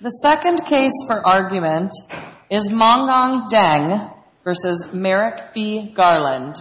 The second case for argument is Mongong Deng v. Merrick B. Garland.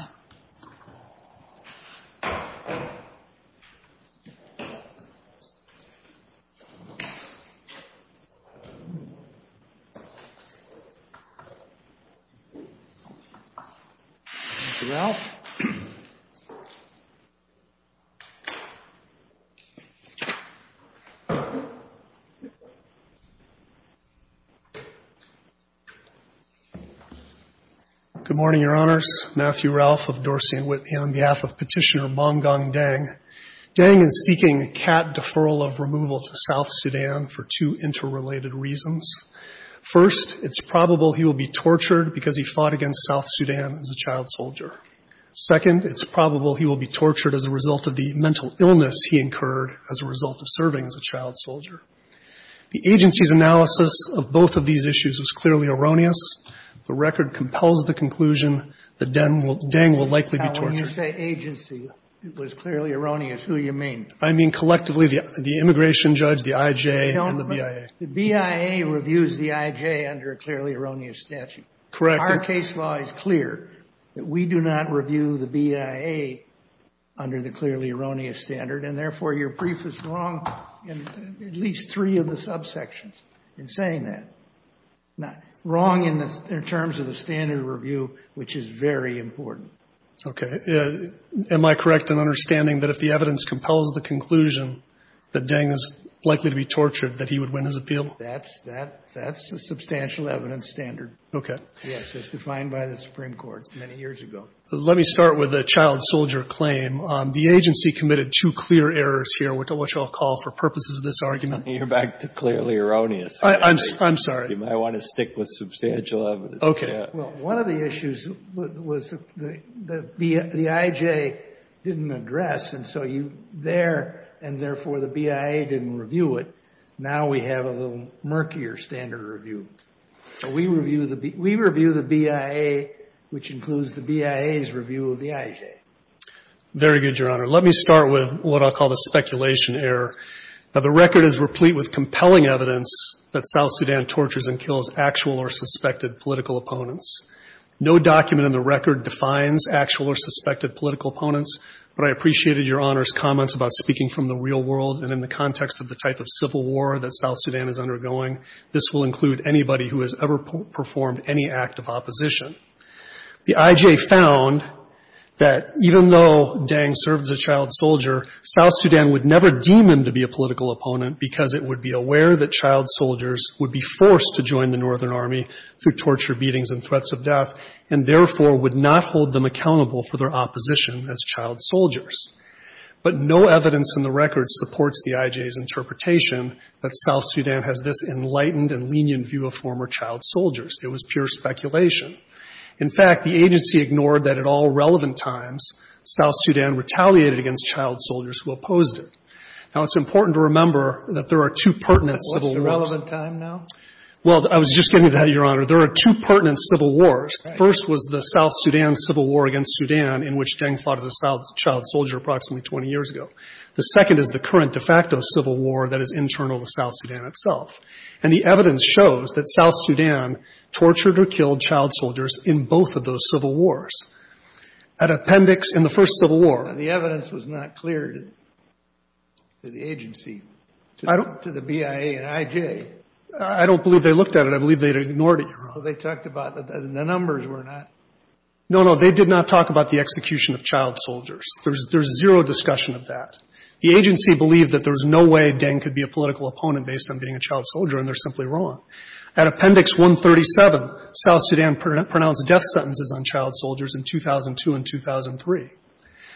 Matthew Ralph of Dorsey and Whitney on behalf of Petitioner Mongong Deng. Deng is seeking a cat deferral of removal to South Sudan for two interrelated reasons. First, it's probable he will be tortured because he fought against South Sudan as a child soldier. Second, it's as a result of serving as a child soldier. The agency's analysis of both of these issues is clearly erroneous. The record compels the conclusion that Deng will likely be tortured. Justice Breyer, when you say agency, it was clearly erroneous. Who do you mean? I mean, collectively, the immigration judge, the IJ, and the BIA. The BIA reviews the IJ under a clearly erroneous statute. Correct. Our case law is clear that we do not review the BIA under the clearly erroneous standard, and therefore, your brief is wrong in at least three of the subsections in saying that. Wrong in terms of the standard review, which is very important. Okay. Am I correct in understanding that if the evidence compels the conclusion that Deng is likely to be tortured, that he would win his appeal? That's a substantial evidence standard. Yes. It's defined by the Supreme Court many years ago. Let me start with the child soldier claim. The agency committed two clear errors here, which I'll call for purposes of this argument. You're back to clearly erroneous. I'm sorry. You might want to stick with substantial evidence. Okay. Well, one of the issues was the IJ didn't address, and so you there, and therefore, the BIA didn't review it. Now we have a little murkier standard review. We review the BIA, which includes the BIA's review of the IJ. Very good, Your Honor. Let me start with what I'll call the speculation error. Now, the record is replete with compelling evidence that South Sudan tortures and kills actual or suspected political opponents. No document in the record defines actual or suspected political opponents, but I appreciated Your Honor's comments about speaking from the real world and in performed any act of opposition. The IJ found that even though Dang served as a child soldier, South Sudan would never deem him to be a political opponent because it would be aware that child soldiers would be forced to join the Northern Army through torture, beatings, and threats of death, and therefore, would not hold them accountable for their opposition as child soldiers. But no evidence in the record supports the IJ's interpretation that South Sudan has this enlightened and lenient view of former child soldiers. It was pure speculation. In fact, the agency ignored that at all relevant times, South Sudan retaliated against child soldiers who opposed it. Now, it's important to remember that there are two pertinent civil wars. What's the relevant time now? Well, I was just getting to that, Your Honor. There are two pertinent civil wars. First was the South Sudan civil war against Sudan in which Dang fought as a child soldier approximately 20 years ago. The second is the current de facto civil war that is internal to South Sudan itself. And the evidence shows that South Sudan tortured or killed child soldiers in both of those civil wars. An appendix in the first civil war. And the evidence was not clear to the agency, to the BIA and IJ. I don't believe they looked at it. I believe they ignored it, Your Honor. They talked about the numbers were not. No, no. They did not talk about the execution of child soldiers. There's zero discussion of that. The agency believed that there was no way Dang could be a political opponent based on being a child soldier, and they're simply wrong. At Appendix 137, South Sudan pronounced death sentences on child soldiers in 2002 and 2003.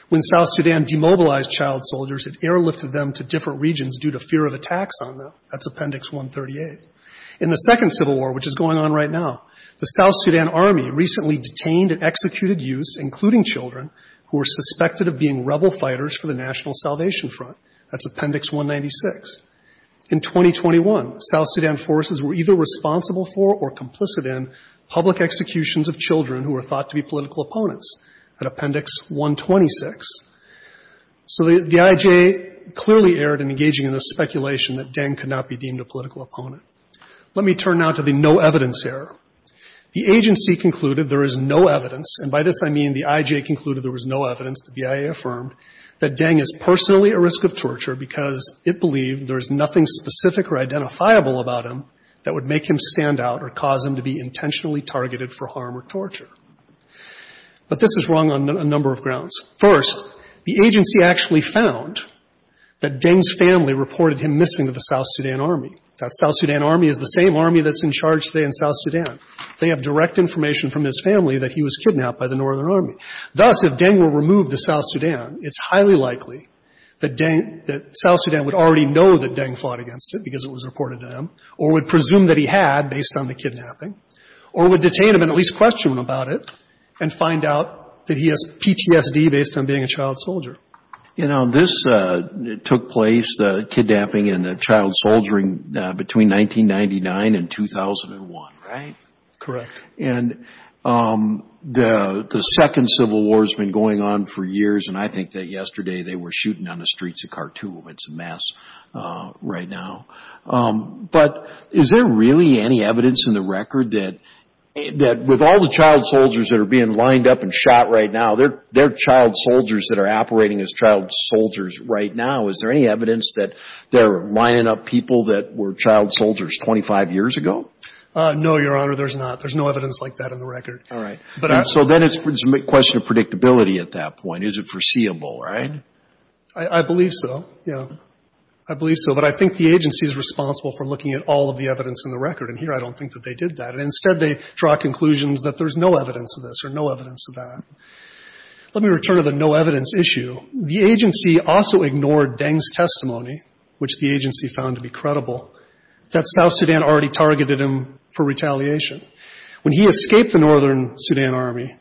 When South Sudan demobilized child soldiers, it airlifted them to different regions due to fear of attacks on them. That's Appendix 138. In the second civil war, which is going on right now, the South Sudan Army recently detained and executed youths, including children, who were suspected of being rebel fighters for the National Salvation Front. That's Appendix 196. In 2021, South Sudan forces were either responsible for or complicit in public executions of children who were thought to be political opponents at Appendix 126. So the IJ clearly erred in engaging in the speculation that Dang could not be deemed a political opponent. Let me turn now to the no evidence error. The agency concluded there is no evidence, and by this I mean the IJ concluded there was no evidence that the IA affirmed, that Dang is personally at risk of torture because it believed there is nothing specific or identifiable about him that would make him stand out or cause him to be intentionally targeted for harm or torture. But this is wrong on a number of grounds. First, the agency actually found that Dang's family reported him missing to the South Sudan Army. That South Sudan Army is the same army that's in charge today in South Sudan. They have direct information from his family that he was kidnapped by the Northern Army. Thus, if Dang were removed to South Sudan, it's highly likely that Dang — that South Sudan would already know that Dang fought against it because it was reported to them or would presume that he had based on the kidnapping or would detain him and at least question him about it and find out that he has PTSD based on being a child soldier. You know, this took place, the kidnapping and the child soldiering, between 1999 and 2001, right? Correct. And the second civil war has been going on for years, and I think that yesterday they were shooting on the streets of Khartoum. It's a mess right now. But is there really any evidence in the record that with all the child soldiers that are being lined up and shot right now, they're child soldiers that are operating as child soldiers right now. Is there any evidence that they're lining up people that were child soldiers 25 years ago? No, Your Honor, there's not. There's no evidence like that in the record. All right. So then it's a question of predictability at that point. Is it foreseeable, right? I believe so, yeah. I believe so. But I think the agency is responsible for looking at all of the evidence in the record, and here I don't think that they did that. Instead, they draw conclusions that there's no evidence of this or no evidence of that. Let me return to the no evidence issue. The agency also ignored Deng's testimony, which the agency found to be credible, that South Sudan already targeted him for retaliation. When he escaped the Northern Sudan Army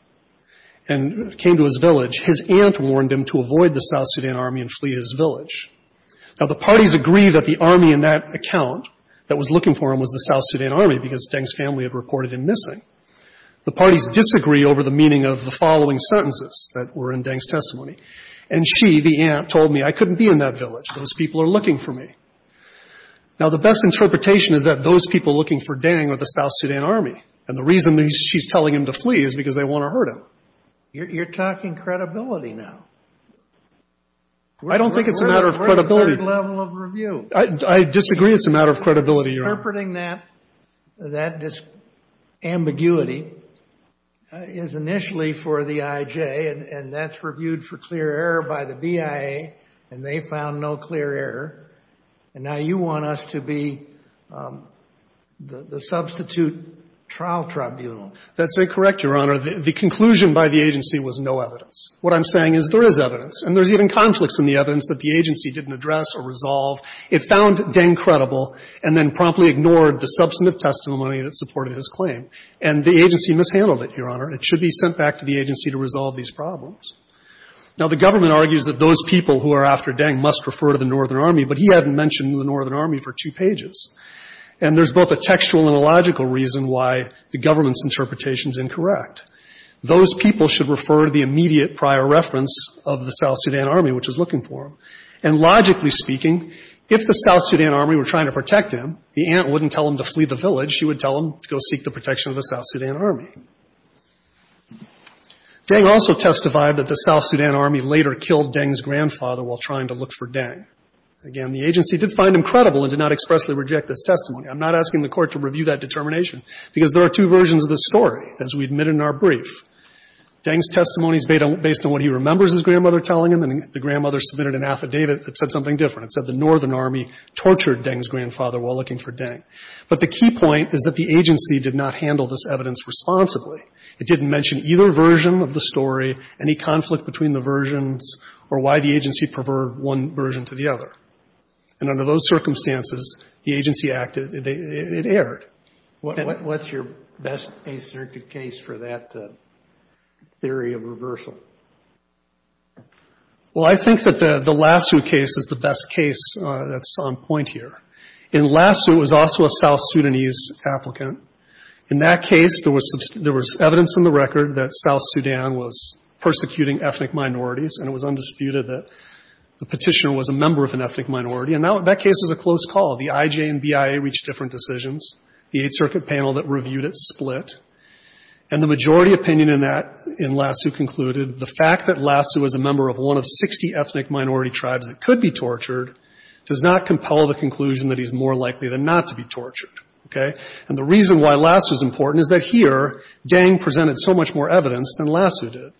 and came to his village, his aunt warned him to avoid the South Sudan Army and flee his village. Now, the parties agreed that the army in that account that was looking for him was the South Sudan Army that was reported in missing. The parties disagree over the meaning of the following sentences that were in Deng's testimony. And she, the aunt, told me, I couldn't be in that village. Those people are looking for me. Now, the best interpretation is that those people looking for Deng are the South Sudan Army, and the reason she's telling him to flee is because they want to hurt him. You're talking credibility now. I don't think it's a matter of credibility. We're at a very different level of review. I disagree it's a matter of credibility, Your Honor. But interpreting that, that ambiguity is initially for the IJ, and that's reviewed for clear error by the BIA, and they found no clear error. And now you want us to be the substitute trial tribunal. That's incorrect, Your Honor. The conclusion by the agency was no evidence. What I'm saying is there is evidence, and there's even conflicts in the evidence that the agency didn't address or resolve. It found Deng credible and then promptly ignored the substantive testimony that supported his claim. And the agency mishandled it, Your Honor. It should be sent back to the agency to resolve these problems. Now, the government argues that those people who are after Deng must refer to the Northern Army, but he hadn't mentioned the Northern Army for two pages. And there's both a textual and a logical reason why the government's interpretation is incorrect. Those people should refer to the immediate prior reference of the South Sudan Army, which is looking for him. And logically speaking, if the South Sudan Army were trying to protect him, the aunt wouldn't tell him to flee the village. She would tell him to go seek the protection of the South Sudan Army. Deng also testified that the South Sudan Army later killed Deng's grandfather while trying to look for Deng. Again, the agency did find him credible and did not expressly reject this testimony. I'm not asking the Court to review that determination, because there are two versions of this story, as we admit in our brief. Deng's testimony is based on what he remembers his grandmother telling him, and the agency, it said something different. It said the Northern Army tortured Deng's grandfather while looking for Deng. But the key point is that the agency did not handle this evidence responsibly. It didn't mention either version of the story, any conflict between the versions, or why the agency preferred one version to the other. And under those circumstances, the agency acted — it erred. And — What's your best Eighth Circuit case for that theory of reversal? Well, I think that the Lassu case is the best case that's on point here. In Lassu, it was also a South Sudanese applicant. In that case, there was evidence in the record that South Sudan was persecuting ethnic minorities, and it was undisputed that the petitioner was a member of an ethnic minority. And that case was a close call. The IJA and BIA reached different decisions. The Eighth Circuit panel that reviewed it split. And the majority opinion in that — in Lassu concluded the fact that Lassu was a member of one of 60 ethnic minority tribes that could be tortured does not compel the conclusion that he's more likely than not to be tortured. Okay? And the reason why Lassu's important is that here, Deng presented so much more evidence than Lassu did.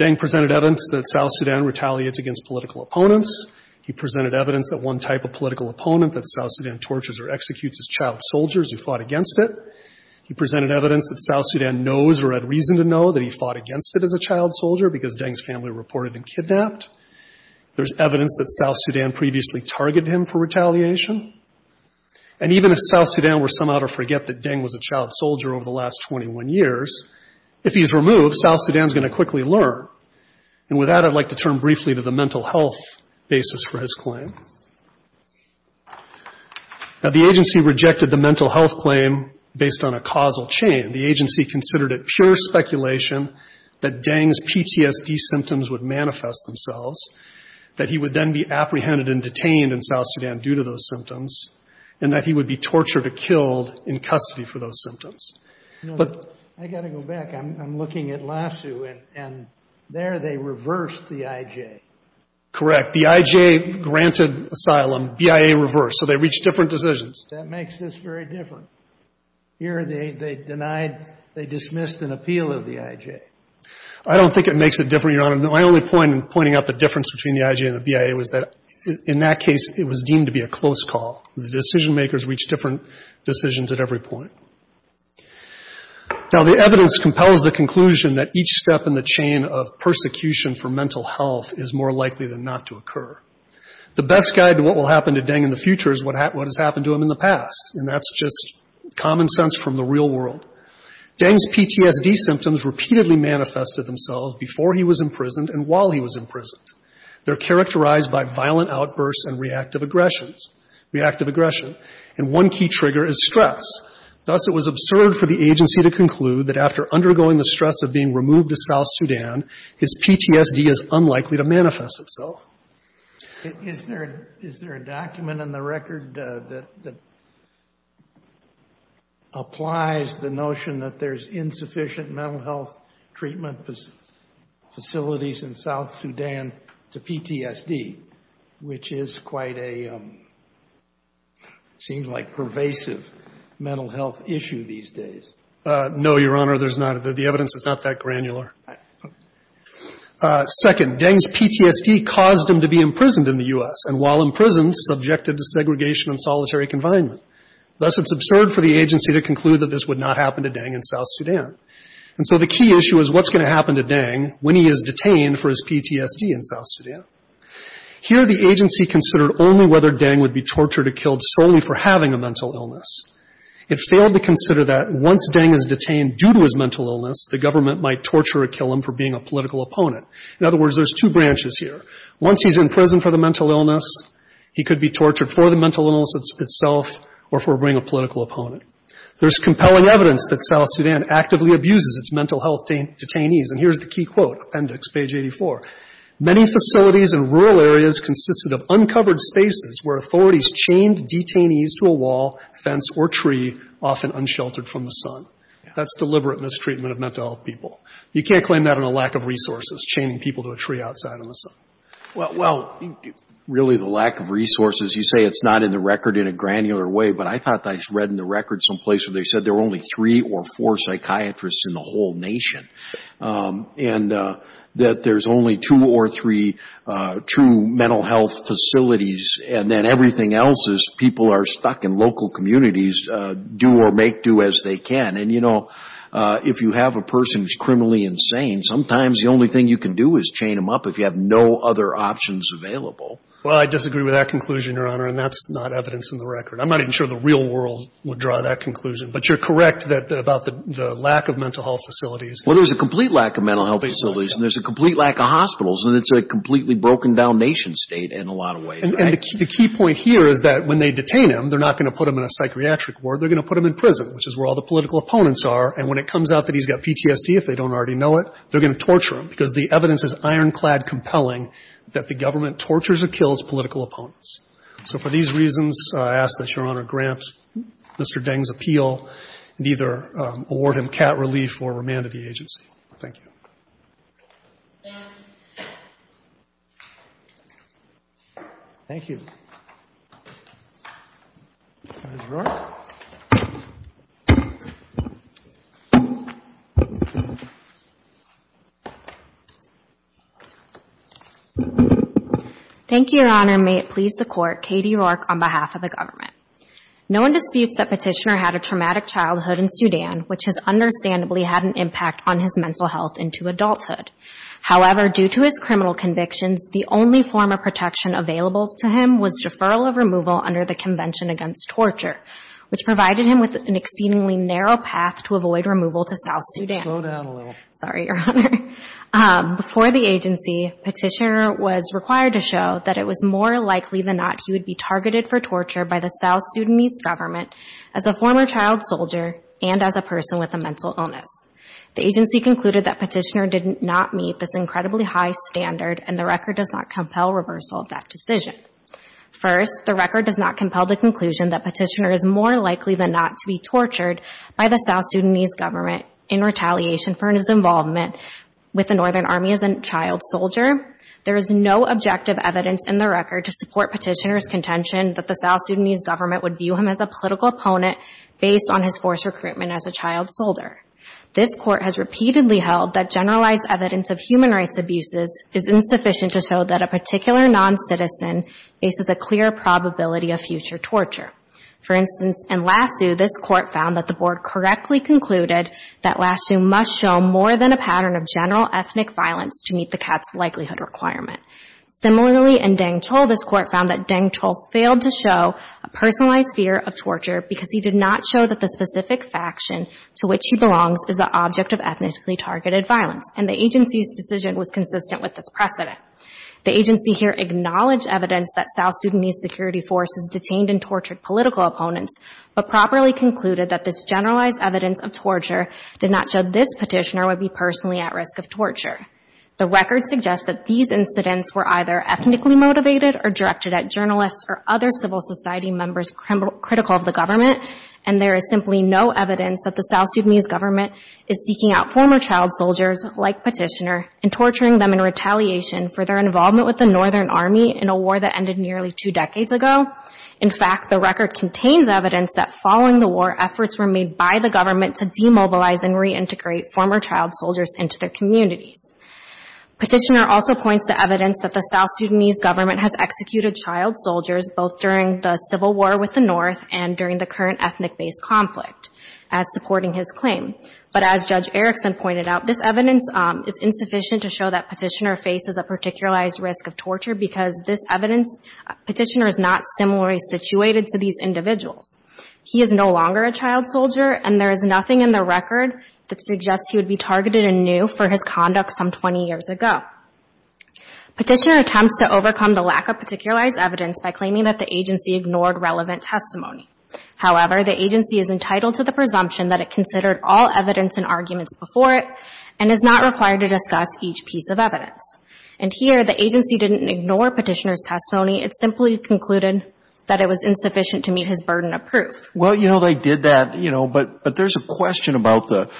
Deng presented evidence that South Sudan retaliates against political opponents. He presented evidence that one type of political opponent that South Sudan tortures or executes is child soldiers who fought against it. He presented evidence that South Sudan knows or had reason to know that he fought against it as a child soldier because Deng's family reported him kidnapped. There's evidence that South Sudan previously targeted him for retaliation. And even if South Sudan were somehow to forget that Deng was a child soldier over the last 21 years, if he's removed, South Sudan's going to quickly learn. And with that, I'd like to turn briefly to the mental health basis for his claim. Now, the agency rejected the mental health claim based on a causal chain. The agency considered it pure speculation that Deng's PTSD symptoms would manifest themselves, that he would then be apprehended and detained in South Sudan due to those symptoms, and that he would be tortured or killed in custody for those symptoms. But — I've got to go back. I'm looking at Lassu, and there they reversed the IJ. Correct. The IJ granted asylum. BIA reversed. So they reached different decisions. That makes this very different. Here they denied — they dismissed an appeal of the IJ. I don't think it makes it different, Your Honor. My only point in pointing out the difference between the IJ and the BIA was that in that case, it was deemed to be a close call. The decision-makers reached different decisions at every point. Now, the evidence compels the conclusion that each step in the chain of persecution for mental health is more likely than not to occur. The best guide to what will happen to Deng in the future is what has happened to him in the past. And that's just common sense from the real world. Deng's PTSD symptoms repeatedly manifested themselves before he was imprisoned and while he was imprisoned. They're characterized by violent outbursts and reactive aggressions — reactive aggression. And one key trigger is stress. Thus, it was absurd for the agency to conclude that after undergoing the stress of being removed to South Sudan, his PTSD is unlikely to manifest itself. Is there a document in the record that applies the notion that there's insufficient mental health treatment facilities in South Sudan to PTSD, which is quite a — seems like a pervasive mental health issue these days? No, Your Honor. There's not. The evidence is not that granular. Second, Deng's PTSD caused him to be imprisoned in the U.S. and while imprisoned, subjected to segregation and solitary confinement. Thus, it's absurd for the agency to conclude that this would not happen to Deng in South Sudan. And so the key issue is what's going to happen to Deng when he is detained for his PTSD in South Sudan? Here, the agency considered only whether Deng would be tortured or killed solely for having a mental illness. It failed to consider that once Deng is detained due to his mental illness, the government might torture or kill him for being a political opponent. In other words, there's two branches here. Once he's in prison for the mental illness, he could be tortured for the mental illness itself or for being a political opponent. There's compelling evidence that South Sudan actively abuses its mental health detainees. And here's the key quote, appendix, page 84. Many facilities in rural areas consisted of uncovered spaces where authorities chained detainees to a wall, fence, or tree, often unsheltered from the sun. That's deliberate mistreatment of mental health people. You can't claim that on a lack of resources, chaining people to a tree outside of the sun. Well, really the lack of resources, you say it's not in the record in a granular way, but I thought I read in the record someplace where they said there were only three or four psychiatrists in the whole nation and that there's only two or three true mental health facilities and then everything else is people are stuck in local communities, do or make do as they can. And, you know, if you have a person who's criminally insane, sometimes the only thing you can do is chain them up if you have no other options available. Well, I disagree with that conclusion, Your Honor, and that's not evidence in the record. I'm not even sure the real world would draw that conclusion. But you're correct about the lack of mental health facilities. Well, there's a complete lack of mental health facilities and there's a complete lack of hospitals, and it's a completely broken-down nation-state in a lot of ways. And the key point here is that when they detain him, they're not going to put him in a psychiatric ward. They're going to put him in prison, which is where all the political opponents are. And when it comes out that he's got PTSD, if they don't already know it, they're going to torture him because the evidence is ironclad compelling that the government tortures or kills political opponents. So for these reasons, I ask that Your Honor grant Mr. Deng's appeal and either award him cat relief or remand at the agency. Thank you. Thank you. Thank you, Your Honor. May it please the Court, Katie Rourke on behalf of the government. No one disputes that Petitioner had a traumatic childhood in Sudan, which has However, due to his criminal convictions, the only form of protection available to him was deferral of removal under the Convention Against Torture, which provided him with an exceedingly narrow path to avoid removal to South Sudan. Slow down a little. Sorry, Your Honor. Before the agency, Petitioner was required to show that it was more likely than not he would be targeted for torture by the South Sudanese government as a former child soldier and as a person with a mental illness. The agency concluded that Petitioner did not meet this incredibly high standard, and the record does not compel reversal of that decision. First, the record does not compel the conclusion that Petitioner is more likely than not to be tortured by the South Sudanese government in retaliation for his involvement with the Northern Army as a child soldier. There is no objective evidence in the record to support Petitioner's contention that the South Sudanese government would view him as a political opponent based on his force recruitment as a child soldier. This Court has repeatedly held that generalized evidence of human rights abuses is insufficient to show that a particular non-citizen faces a clear probability of future torture. For instance, in Lassu, this Court found that the Board correctly concluded that Lassu must show more than a pattern of general ethnic violence to meet the cat's likelihood requirement. Similarly, in Dangchul, this Court found that Dangchul failed to show a personalized fear of torture because he did not show that the specific faction to which he belongs is the object of ethnically targeted violence, and the agency's decision was consistent with this precedent. The agency here acknowledged evidence that South Sudanese security forces detained and tortured political opponents, but properly concluded that this generalized evidence of torture did not show this Petitioner would be personally at risk of torture. The record suggests that these incidents were either ethnically motivated or directed at journalists or other civil society members critical of the government, and there is simply no evidence that the South Sudanese government is seeking out former child soldiers like Petitioner and torturing them in retaliation for their involvement with the Northern Army in a war that ended nearly two decades ago. In fact, the record contains evidence that following the war, efforts were made by the government to demobilize and reintegrate former child soldiers into their communities. Petitioner also points to evidence that the South Sudanese government has executed child soldiers both during the civil war with the North and during the current ethnic-based conflict as supporting his claim. But as Judge Erickson pointed out, this evidence is insufficient to show that Petitioner faces a particularized risk of torture because this evidence, Petitioner is not similarly situated to these individuals. He is no longer a child soldier, and there is nothing in the record that suggests he would be targeted anew for his conduct some 20 years ago. Petitioner attempts to overcome the lack of particularized evidence by claiming that the agency ignored relevant testimony. However, the agency is entitled to the presumption that it considered all evidence and arguments before it and is not required to discuss each piece of evidence. And here, the agency didn't ignore Petitioner's testimony. It simply concluded that it was insufficient to meet his burden of proof. Well, you know, they did that, you know, but there's a question about the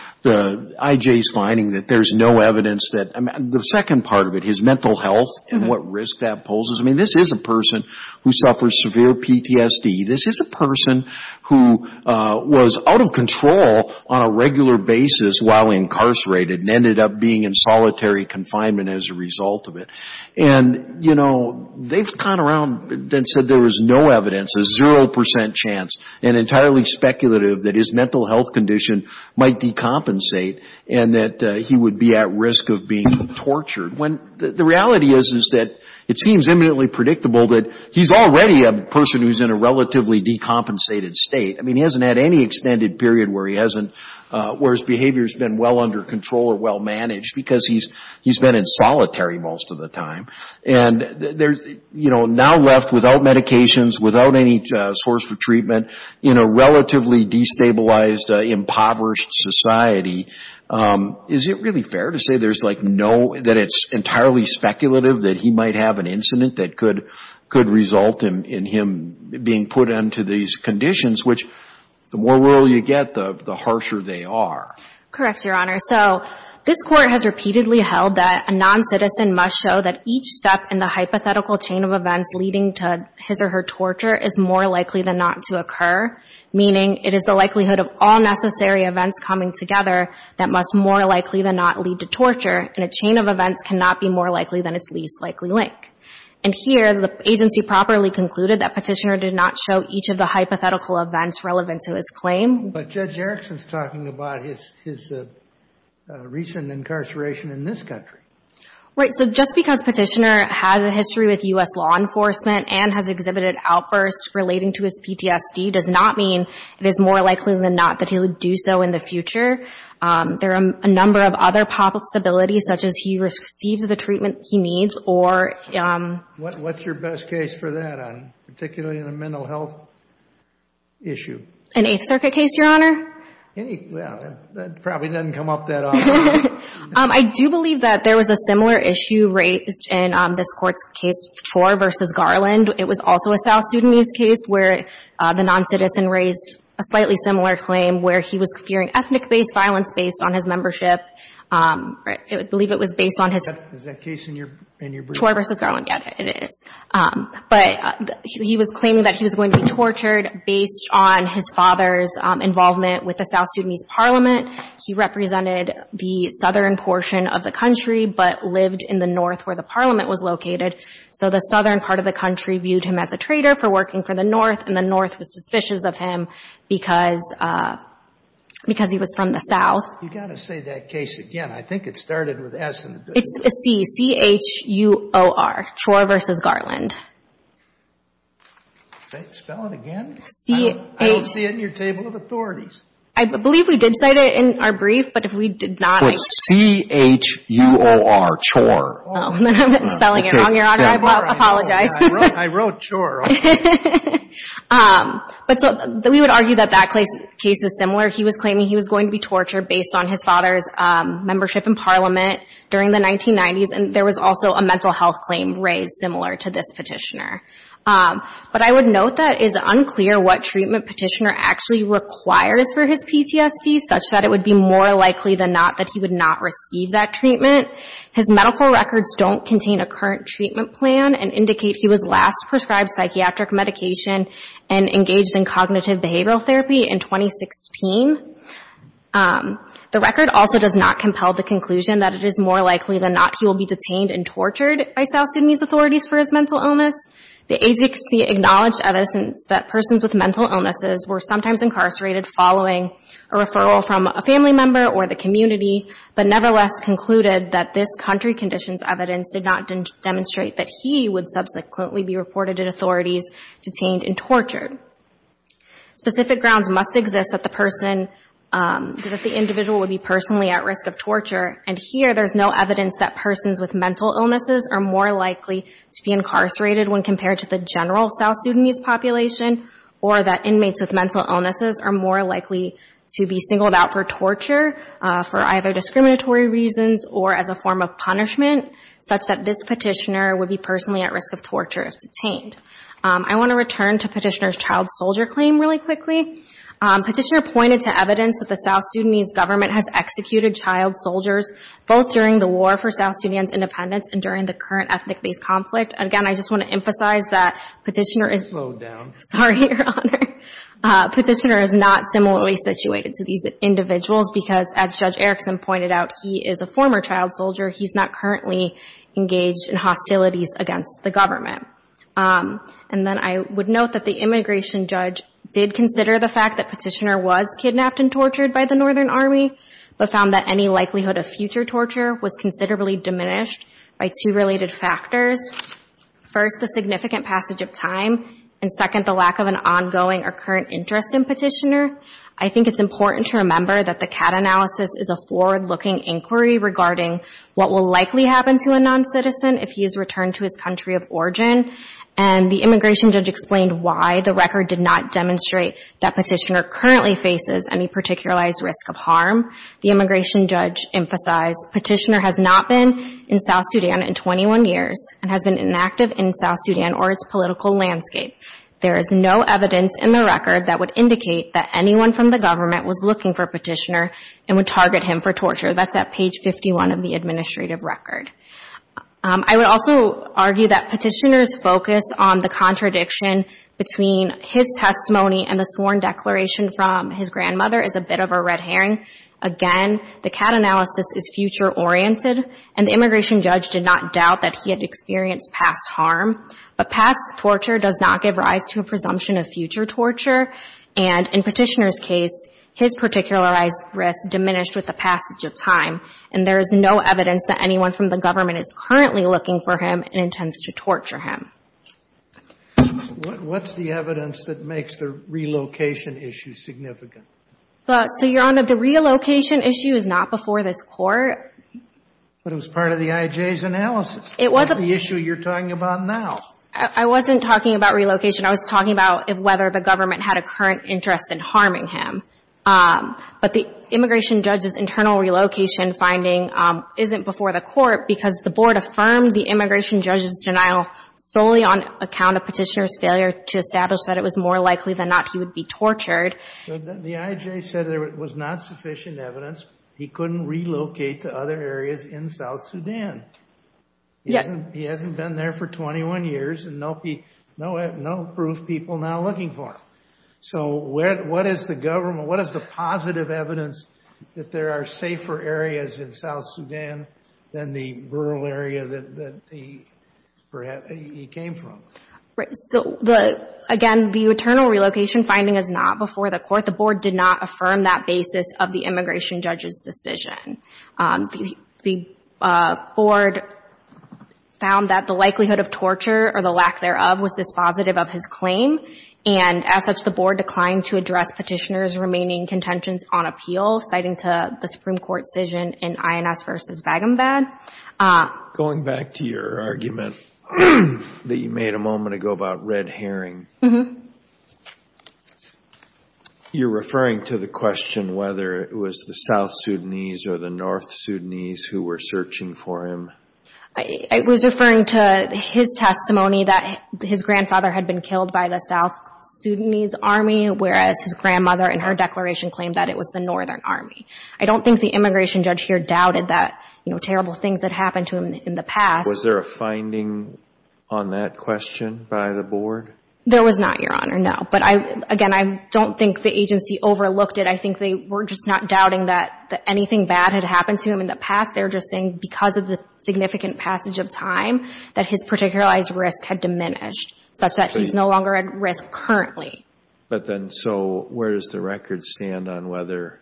IJ's finding that there's no evidence that the second part of it, his mental health and what risk that poses. I mean, this is a person who suffers severe PTSD. This is a person who was out of control on a regular basis while incarcerated and ended up being in solitary confinement as a result of it. And, you know, they've gone around and said there was no evidence, a 0 percent chance, and entirely speculative that his mental health condition might decompensate and that he would be at risk of being tortured. When the reality is, is that it seems imminently predictable that he's already a person who's in a relatively decompensated state. I mean, he hasn't had any extended period where he hasn't, where his behavior has been well under control or well managed because he's been in solitary most of the time. And there's, you know, now left without medications, without any source of treatment, in a relatively destabilized, impoverished society. Is it really fair to say there's, like, no, that it's entirely speculative that he might have an incident that could result in him being put into these conditions, which the more rural you get, the harsher they are? Correct, Your Honor. So this Court has repeatedly held that a non-citizen must show that each step in the hypothetical chain of events leading to his or her torture is more likely than not to occur, meaning it is the likelihood of all necessary events coming together that must more likely than not lead to torture, and a chain of events cannot be more likely than its least likely link. And here, the agency properly concluded that Petitioner did not show each of the hypothetical events relevant to his claim. But Judge Erickson's talking about his recent incarceration in this country. Right. So just because Petitioner has a history with U.S. law enforcement and has exhibited outbursts relating to his PTSD does not mean it is more likely than not that he would do so in the future. There are a number of other possibilities, such as he receives the treatment he needs or... What's your best case for that, particularly in a mental health issue? An Eighth Circuit case, Your Honor? Well, that probably doesn't come up that often. I do believe that there was a similar issue raised in this Court's case, Chor v. Garland. It was also a South Sudanese case where the non-citizen raised a slightly similar claim where he was fearing ethnic-based violence based on his membership. I believe it was based on his... Is that case in your brief? Chor v. Garland. Yes, it is. But he was claiming that he was going to be tortured based on his father's involvement with the South Sudanese Parliament. He represented the southern portion of the country but lived in the north where the Parliament was located. So the southern part of the country viewed him as a traitor for working for the Parliament because he was from the south. You've got to say that case again. I think it started with S. It's C, C-H-U-O-R, Chor v. Garland. Spell it again. I don't see it in your table of authorities. I believe we did cite it in our brief, but if we did not... It's C-H-U-O-R, Chor. Oh, then I've been spelling it wrong, Your Honor. I apologize. I wrote Chor. But we would argue that that case is similar. He was claiming he was going to be tortured based on his father's membership in Parliament during the 1990s. And there was also a mental health claim raised similar to this petitioner. But I would note that it is unclear what treatment petitioner actually requires for his PTSD such that it would be more likely than not that he would not receive that treatment. His medical records don't contain a current treatment plan and indicate he was last prescribed psychiatric medication and engaged in cognitive behavioral therapy in 2016. The record also does not compel the conclusion that it is more likely than not he will be detained and tortured by South Sudanese authorities for his mental illness. The agency acknowledged evidence that persons with mental illnesses were sometimes incarcerated following a referral from a family member or the community, but nevertheless concluded that this country conditions evidence did not demonstrate that he would subsequently be reported in authorities detained and tortured. Specific grounds must exist that the person, that the individual would be personally at risk of torture. And here there's no evidence that persons with mental illnesses are more likely to be incarcerated when compared to the general South Sudanese population or that inmates with mental illnesses are more likely to be singled out for torture for either discriminatory reasons or as a form of punishment such that this petitioner would be personally at risk of torture if detained. I want to return to Petitioner's child soldier claim really quickly. Petitioner pointed to evidence that the South Sudanese government has executed child soldiers both during the war for South Sudan's independence and during the current ethnic-based conflict. Again, I just want to emphasize that Petitioner is not similarly situated to these individuals because as Judge Erickson pointed out, he is a former child soldier. He's not currently engaged in hostilities against the government. And then I would note that the immigration judge did consider the fact that Petitioner was kidnapped and tortured by the Northern Army, but found that any likelihood of future torture was considerably diminished by two related factors. First, the significant passage of time, and second, the lack of an ongoing or current interest in Petitioner. I think it's important to remember that the CAT analysis is a forward-looking inquiry regarding what will likely happen to a non-citizen if he is returned to his country of origin. And the immigration judge explained why the record did not demonstrate that Petitioner currently faces any particularized risk of harm. The immigration judge emphasized Petitioner has not been in South Sudan in 21 years and has been inactive in South Sudan or its political landscape. There is no evidence in the record that would indicate that anyone from the government was looking for Petitioner and would target him for torture. That's at page 51 of the administrative record. I would also argue that Petitioner's focus on the contradiction between his testimony and the sworn declaration from his grandmother is a bit of a red herring. Again, the CAT analysis is future-oriented, and the immigration judge did not doubt that he had experienced past harm. But past torture does not give rise to a presumption of future torture, and in Petitioner's case, his particularized risk diminished with the passage of time. And there is no evidence that anyone from the government is currently looking for him and intends to torture him. What's the evidence that makes the relocation issue significant? So, Your Honor, the relocation issue is not before this Court. But it was part of the IJ's analysis. It was. The issue you're talking about now. I wasn't talking about relocation. I was talking about whether the government had a current interest in harming him. But the immigration judge's internal relocation finding isn't before the Court because the Board affirmed the immigration judge's denial solely on account of Petitioner's failure to establish that it was more likely than not he would be tortured. The IJ said there was not sufficient evidence. He couldn't relocate to other areas in South Sudan. Yes. He hasn't been there for 21 years. And no proof people are now looking for him. So what is the government, what is the positive evidence that there are safer areas in South Sudan than the rural area that he came from? So, again, the internal relocation finding is not before the Court. The Board did not affirm that basis of the immigration judge's decision. The Board found that the likelihood of torture or the lack thereof was dispositive of his claim, and as such the Board declined to address Petitioner's remaining contentions on appeal, citing the Supreme Court decision in INS v. Vagambad. Going back to your argument that you made a moment ago about red herring, you're referring to the question whether it was the South Sudanese or the North Sudanese who were searching for him. I was referring to his testimony that his grandfather had been killed by the South Sudanese Army, whereas his grandmother in her declaration claimed that it was the Northern Army. I don't think the immigration judge here doubted that, you know, terrible things had happened to him in the past. Was there a finding on that question by the Board? There was not, Your Honor, no. But, again, I don't think the agency overlooked it. I think they were just not doubting that anything bad had happened to him in the past. They were just saying, because of the significant passage of time, that his particularized risk had diminished, such that he's no longer at risk currently. But then so where does the record stand on whether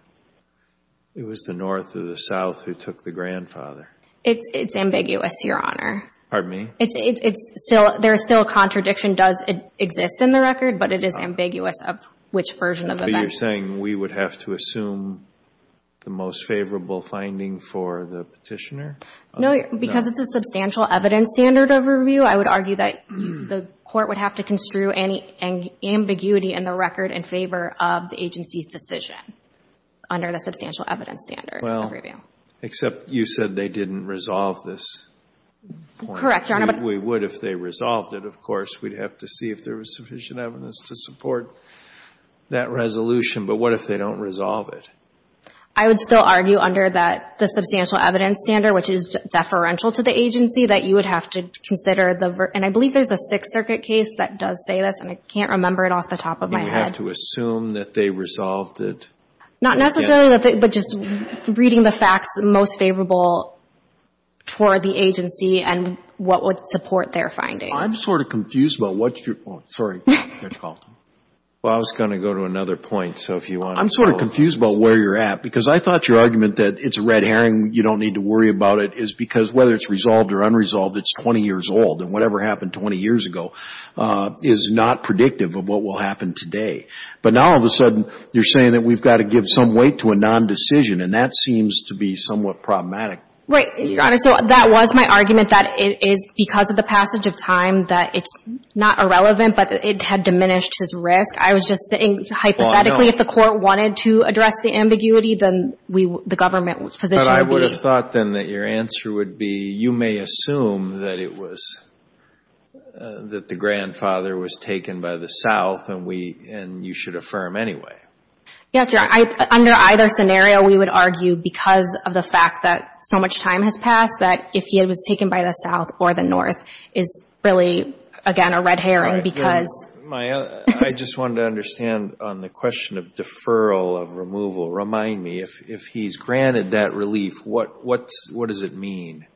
it was the North or the South who took the grandfather? It's ambiguous, Your Honor. Pardon me? There is still a contradiction. It does exist in the record, but it is ambiguous of which version of events. So you're saying we would have to assume the most favorable finding for the petitioner? No. Because it's a substantial evidence standard of review, I would argue that the Court would have to construe any ambiguity in the record in favor of the agency's decision under the substantial evidence standard of review. Well, except you said they didn't resolve this. Correct, Your Honor. We would if they resolved it, of course. We'd have to see if there was sufficient evidence to support that resolution. But what if they don't resolve it? I would still argue under the substantial evidence standard, which is deferential to the agency, that you would have to consider. And I believe there's a Sixth Circuit case that does say this, and I can't remember it off the top of my head. Do we have to assume that they resolved it? Not necessarily, but just reading the facts, the most favorable for the agency and what would support their findings. I'm sort of confused about what's your point. Sorry. Well, I was going to go to another point, so if you want to follow up. I'm sort of confused about where you're at, because I thought your argument that it's a red herring, you don't need to worry about it, is because whether it's resolved or unresolved, it's 20 years old. And whatever happened 20 years ago is not predictive of what will happen today. But now, all of a sudden, you're saying that we've got to give some weight to a non-decision, and that seems to be somewhat problematic. Right. Your Honor, so that was my argument, that it is because of the passage of time, that it's not irrelevant, but it had diminished his risk. I was just saying hypothetically, if the court wanted to address the ambiguity, then the government's position would be. But I would have thought, then, that your answer would be, you may assume that it was, that the grandfather was taken by the South and you should affirm anyway. Yes, Your Honor. Under either scenario, we would argue, because of the fact that so much time has passed, that if he was taken by the South or the North is really, again, a red herring because... Maya, I just wanted to understand on the question of deferral of removal. Remind me, if he's granted that relief, what does it mean?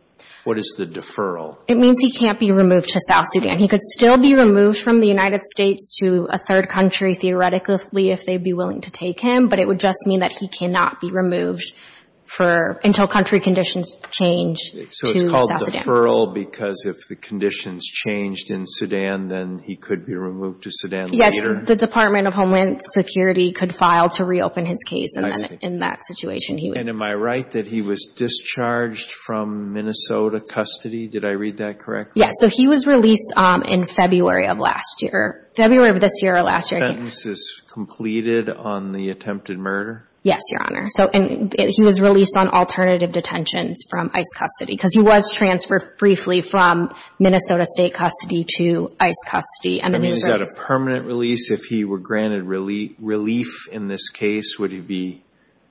What is the deferral? It means he can't be removed to South Sudan. He could still be removed from the United States to a third country, theoretically, if they'd be willing to take him, but it would just mean that he cannot be removed until country conditions change to South Sudan. So it's called deferral because if the conditions changed in Sudan, then he could be removed to Sudan later? Yes. The Department of Homeland Security could file to reopen his case. I see. And in that situation, he would... And am I right that he was discharged from Minnesota custody? Did I read that correctly? Yes. So he was released in February of last year. February of this year or last year... The sentence is completed on the attempted murder? Yes, Your Honor. And he was released on alternative detentions from ICE custody because he was transferred briefly from Minnesota State custody to ICE custody. And then he was released. Is that a permanent release? If he were granted relief in this case, would he be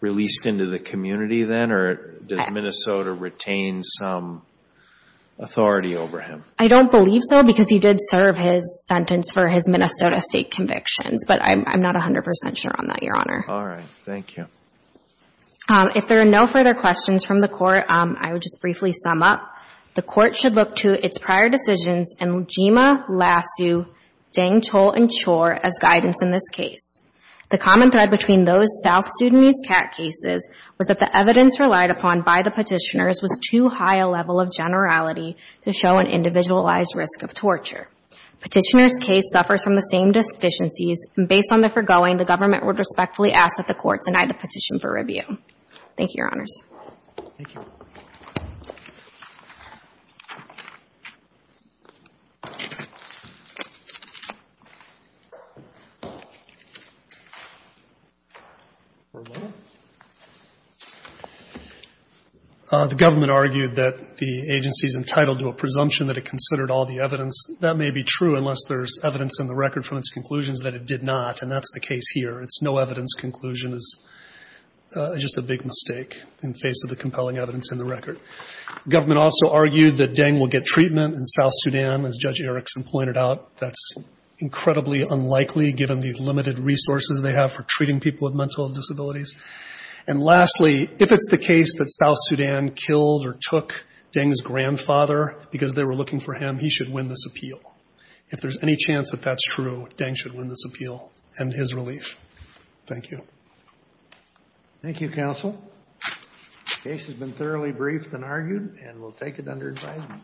released into the community then, or does Minnesota retain some authority over him? I don't believe so because he did serve his sentence for his Minnesota State convictions, but I'm not 100 percent sure on that, Your Honor. All right. Thank you. If there are no further questions from the Court, I would just briefly sum up. The Court should look to its prior decisions and Jima, Lassu, Dangchul, and Chor as guidance in this case. The common thread between those South Sudanese CAT cases was that the evidence relied upon by the petitioners was too high a level of generality to show an individualized risk of torture. The petitioner's case suffers from the same deficiencies, and based on the foregoing, the government would respectfully ask that the Court deny the petition for review. Thank you, Your Honors. Thank you. The government argued that the agency is entitled to a presumption that it considered all the evidence. That may be true unless there's evidence in the record from its conclusions that it did not, and that's the case here. It's no evidence conclusion is just a big mistake in face of the compelling evidence in the record. The government also argued that Dang will get treatment in South Sudan, as Judge Erickson pointed out. That's incredibly unlikely given the limited resources they have for treating people with mental disabilities. And lastly, if it's the case that South Sudan killed or took Dang's grandfather because they were looking for him, he should win this appeal. If there's any chance that that's true, Dang should win this appeal and his relief. Thank you. Thank you, counsel. The case has been thoroughly briefed and argued, and we'll take it under advisement.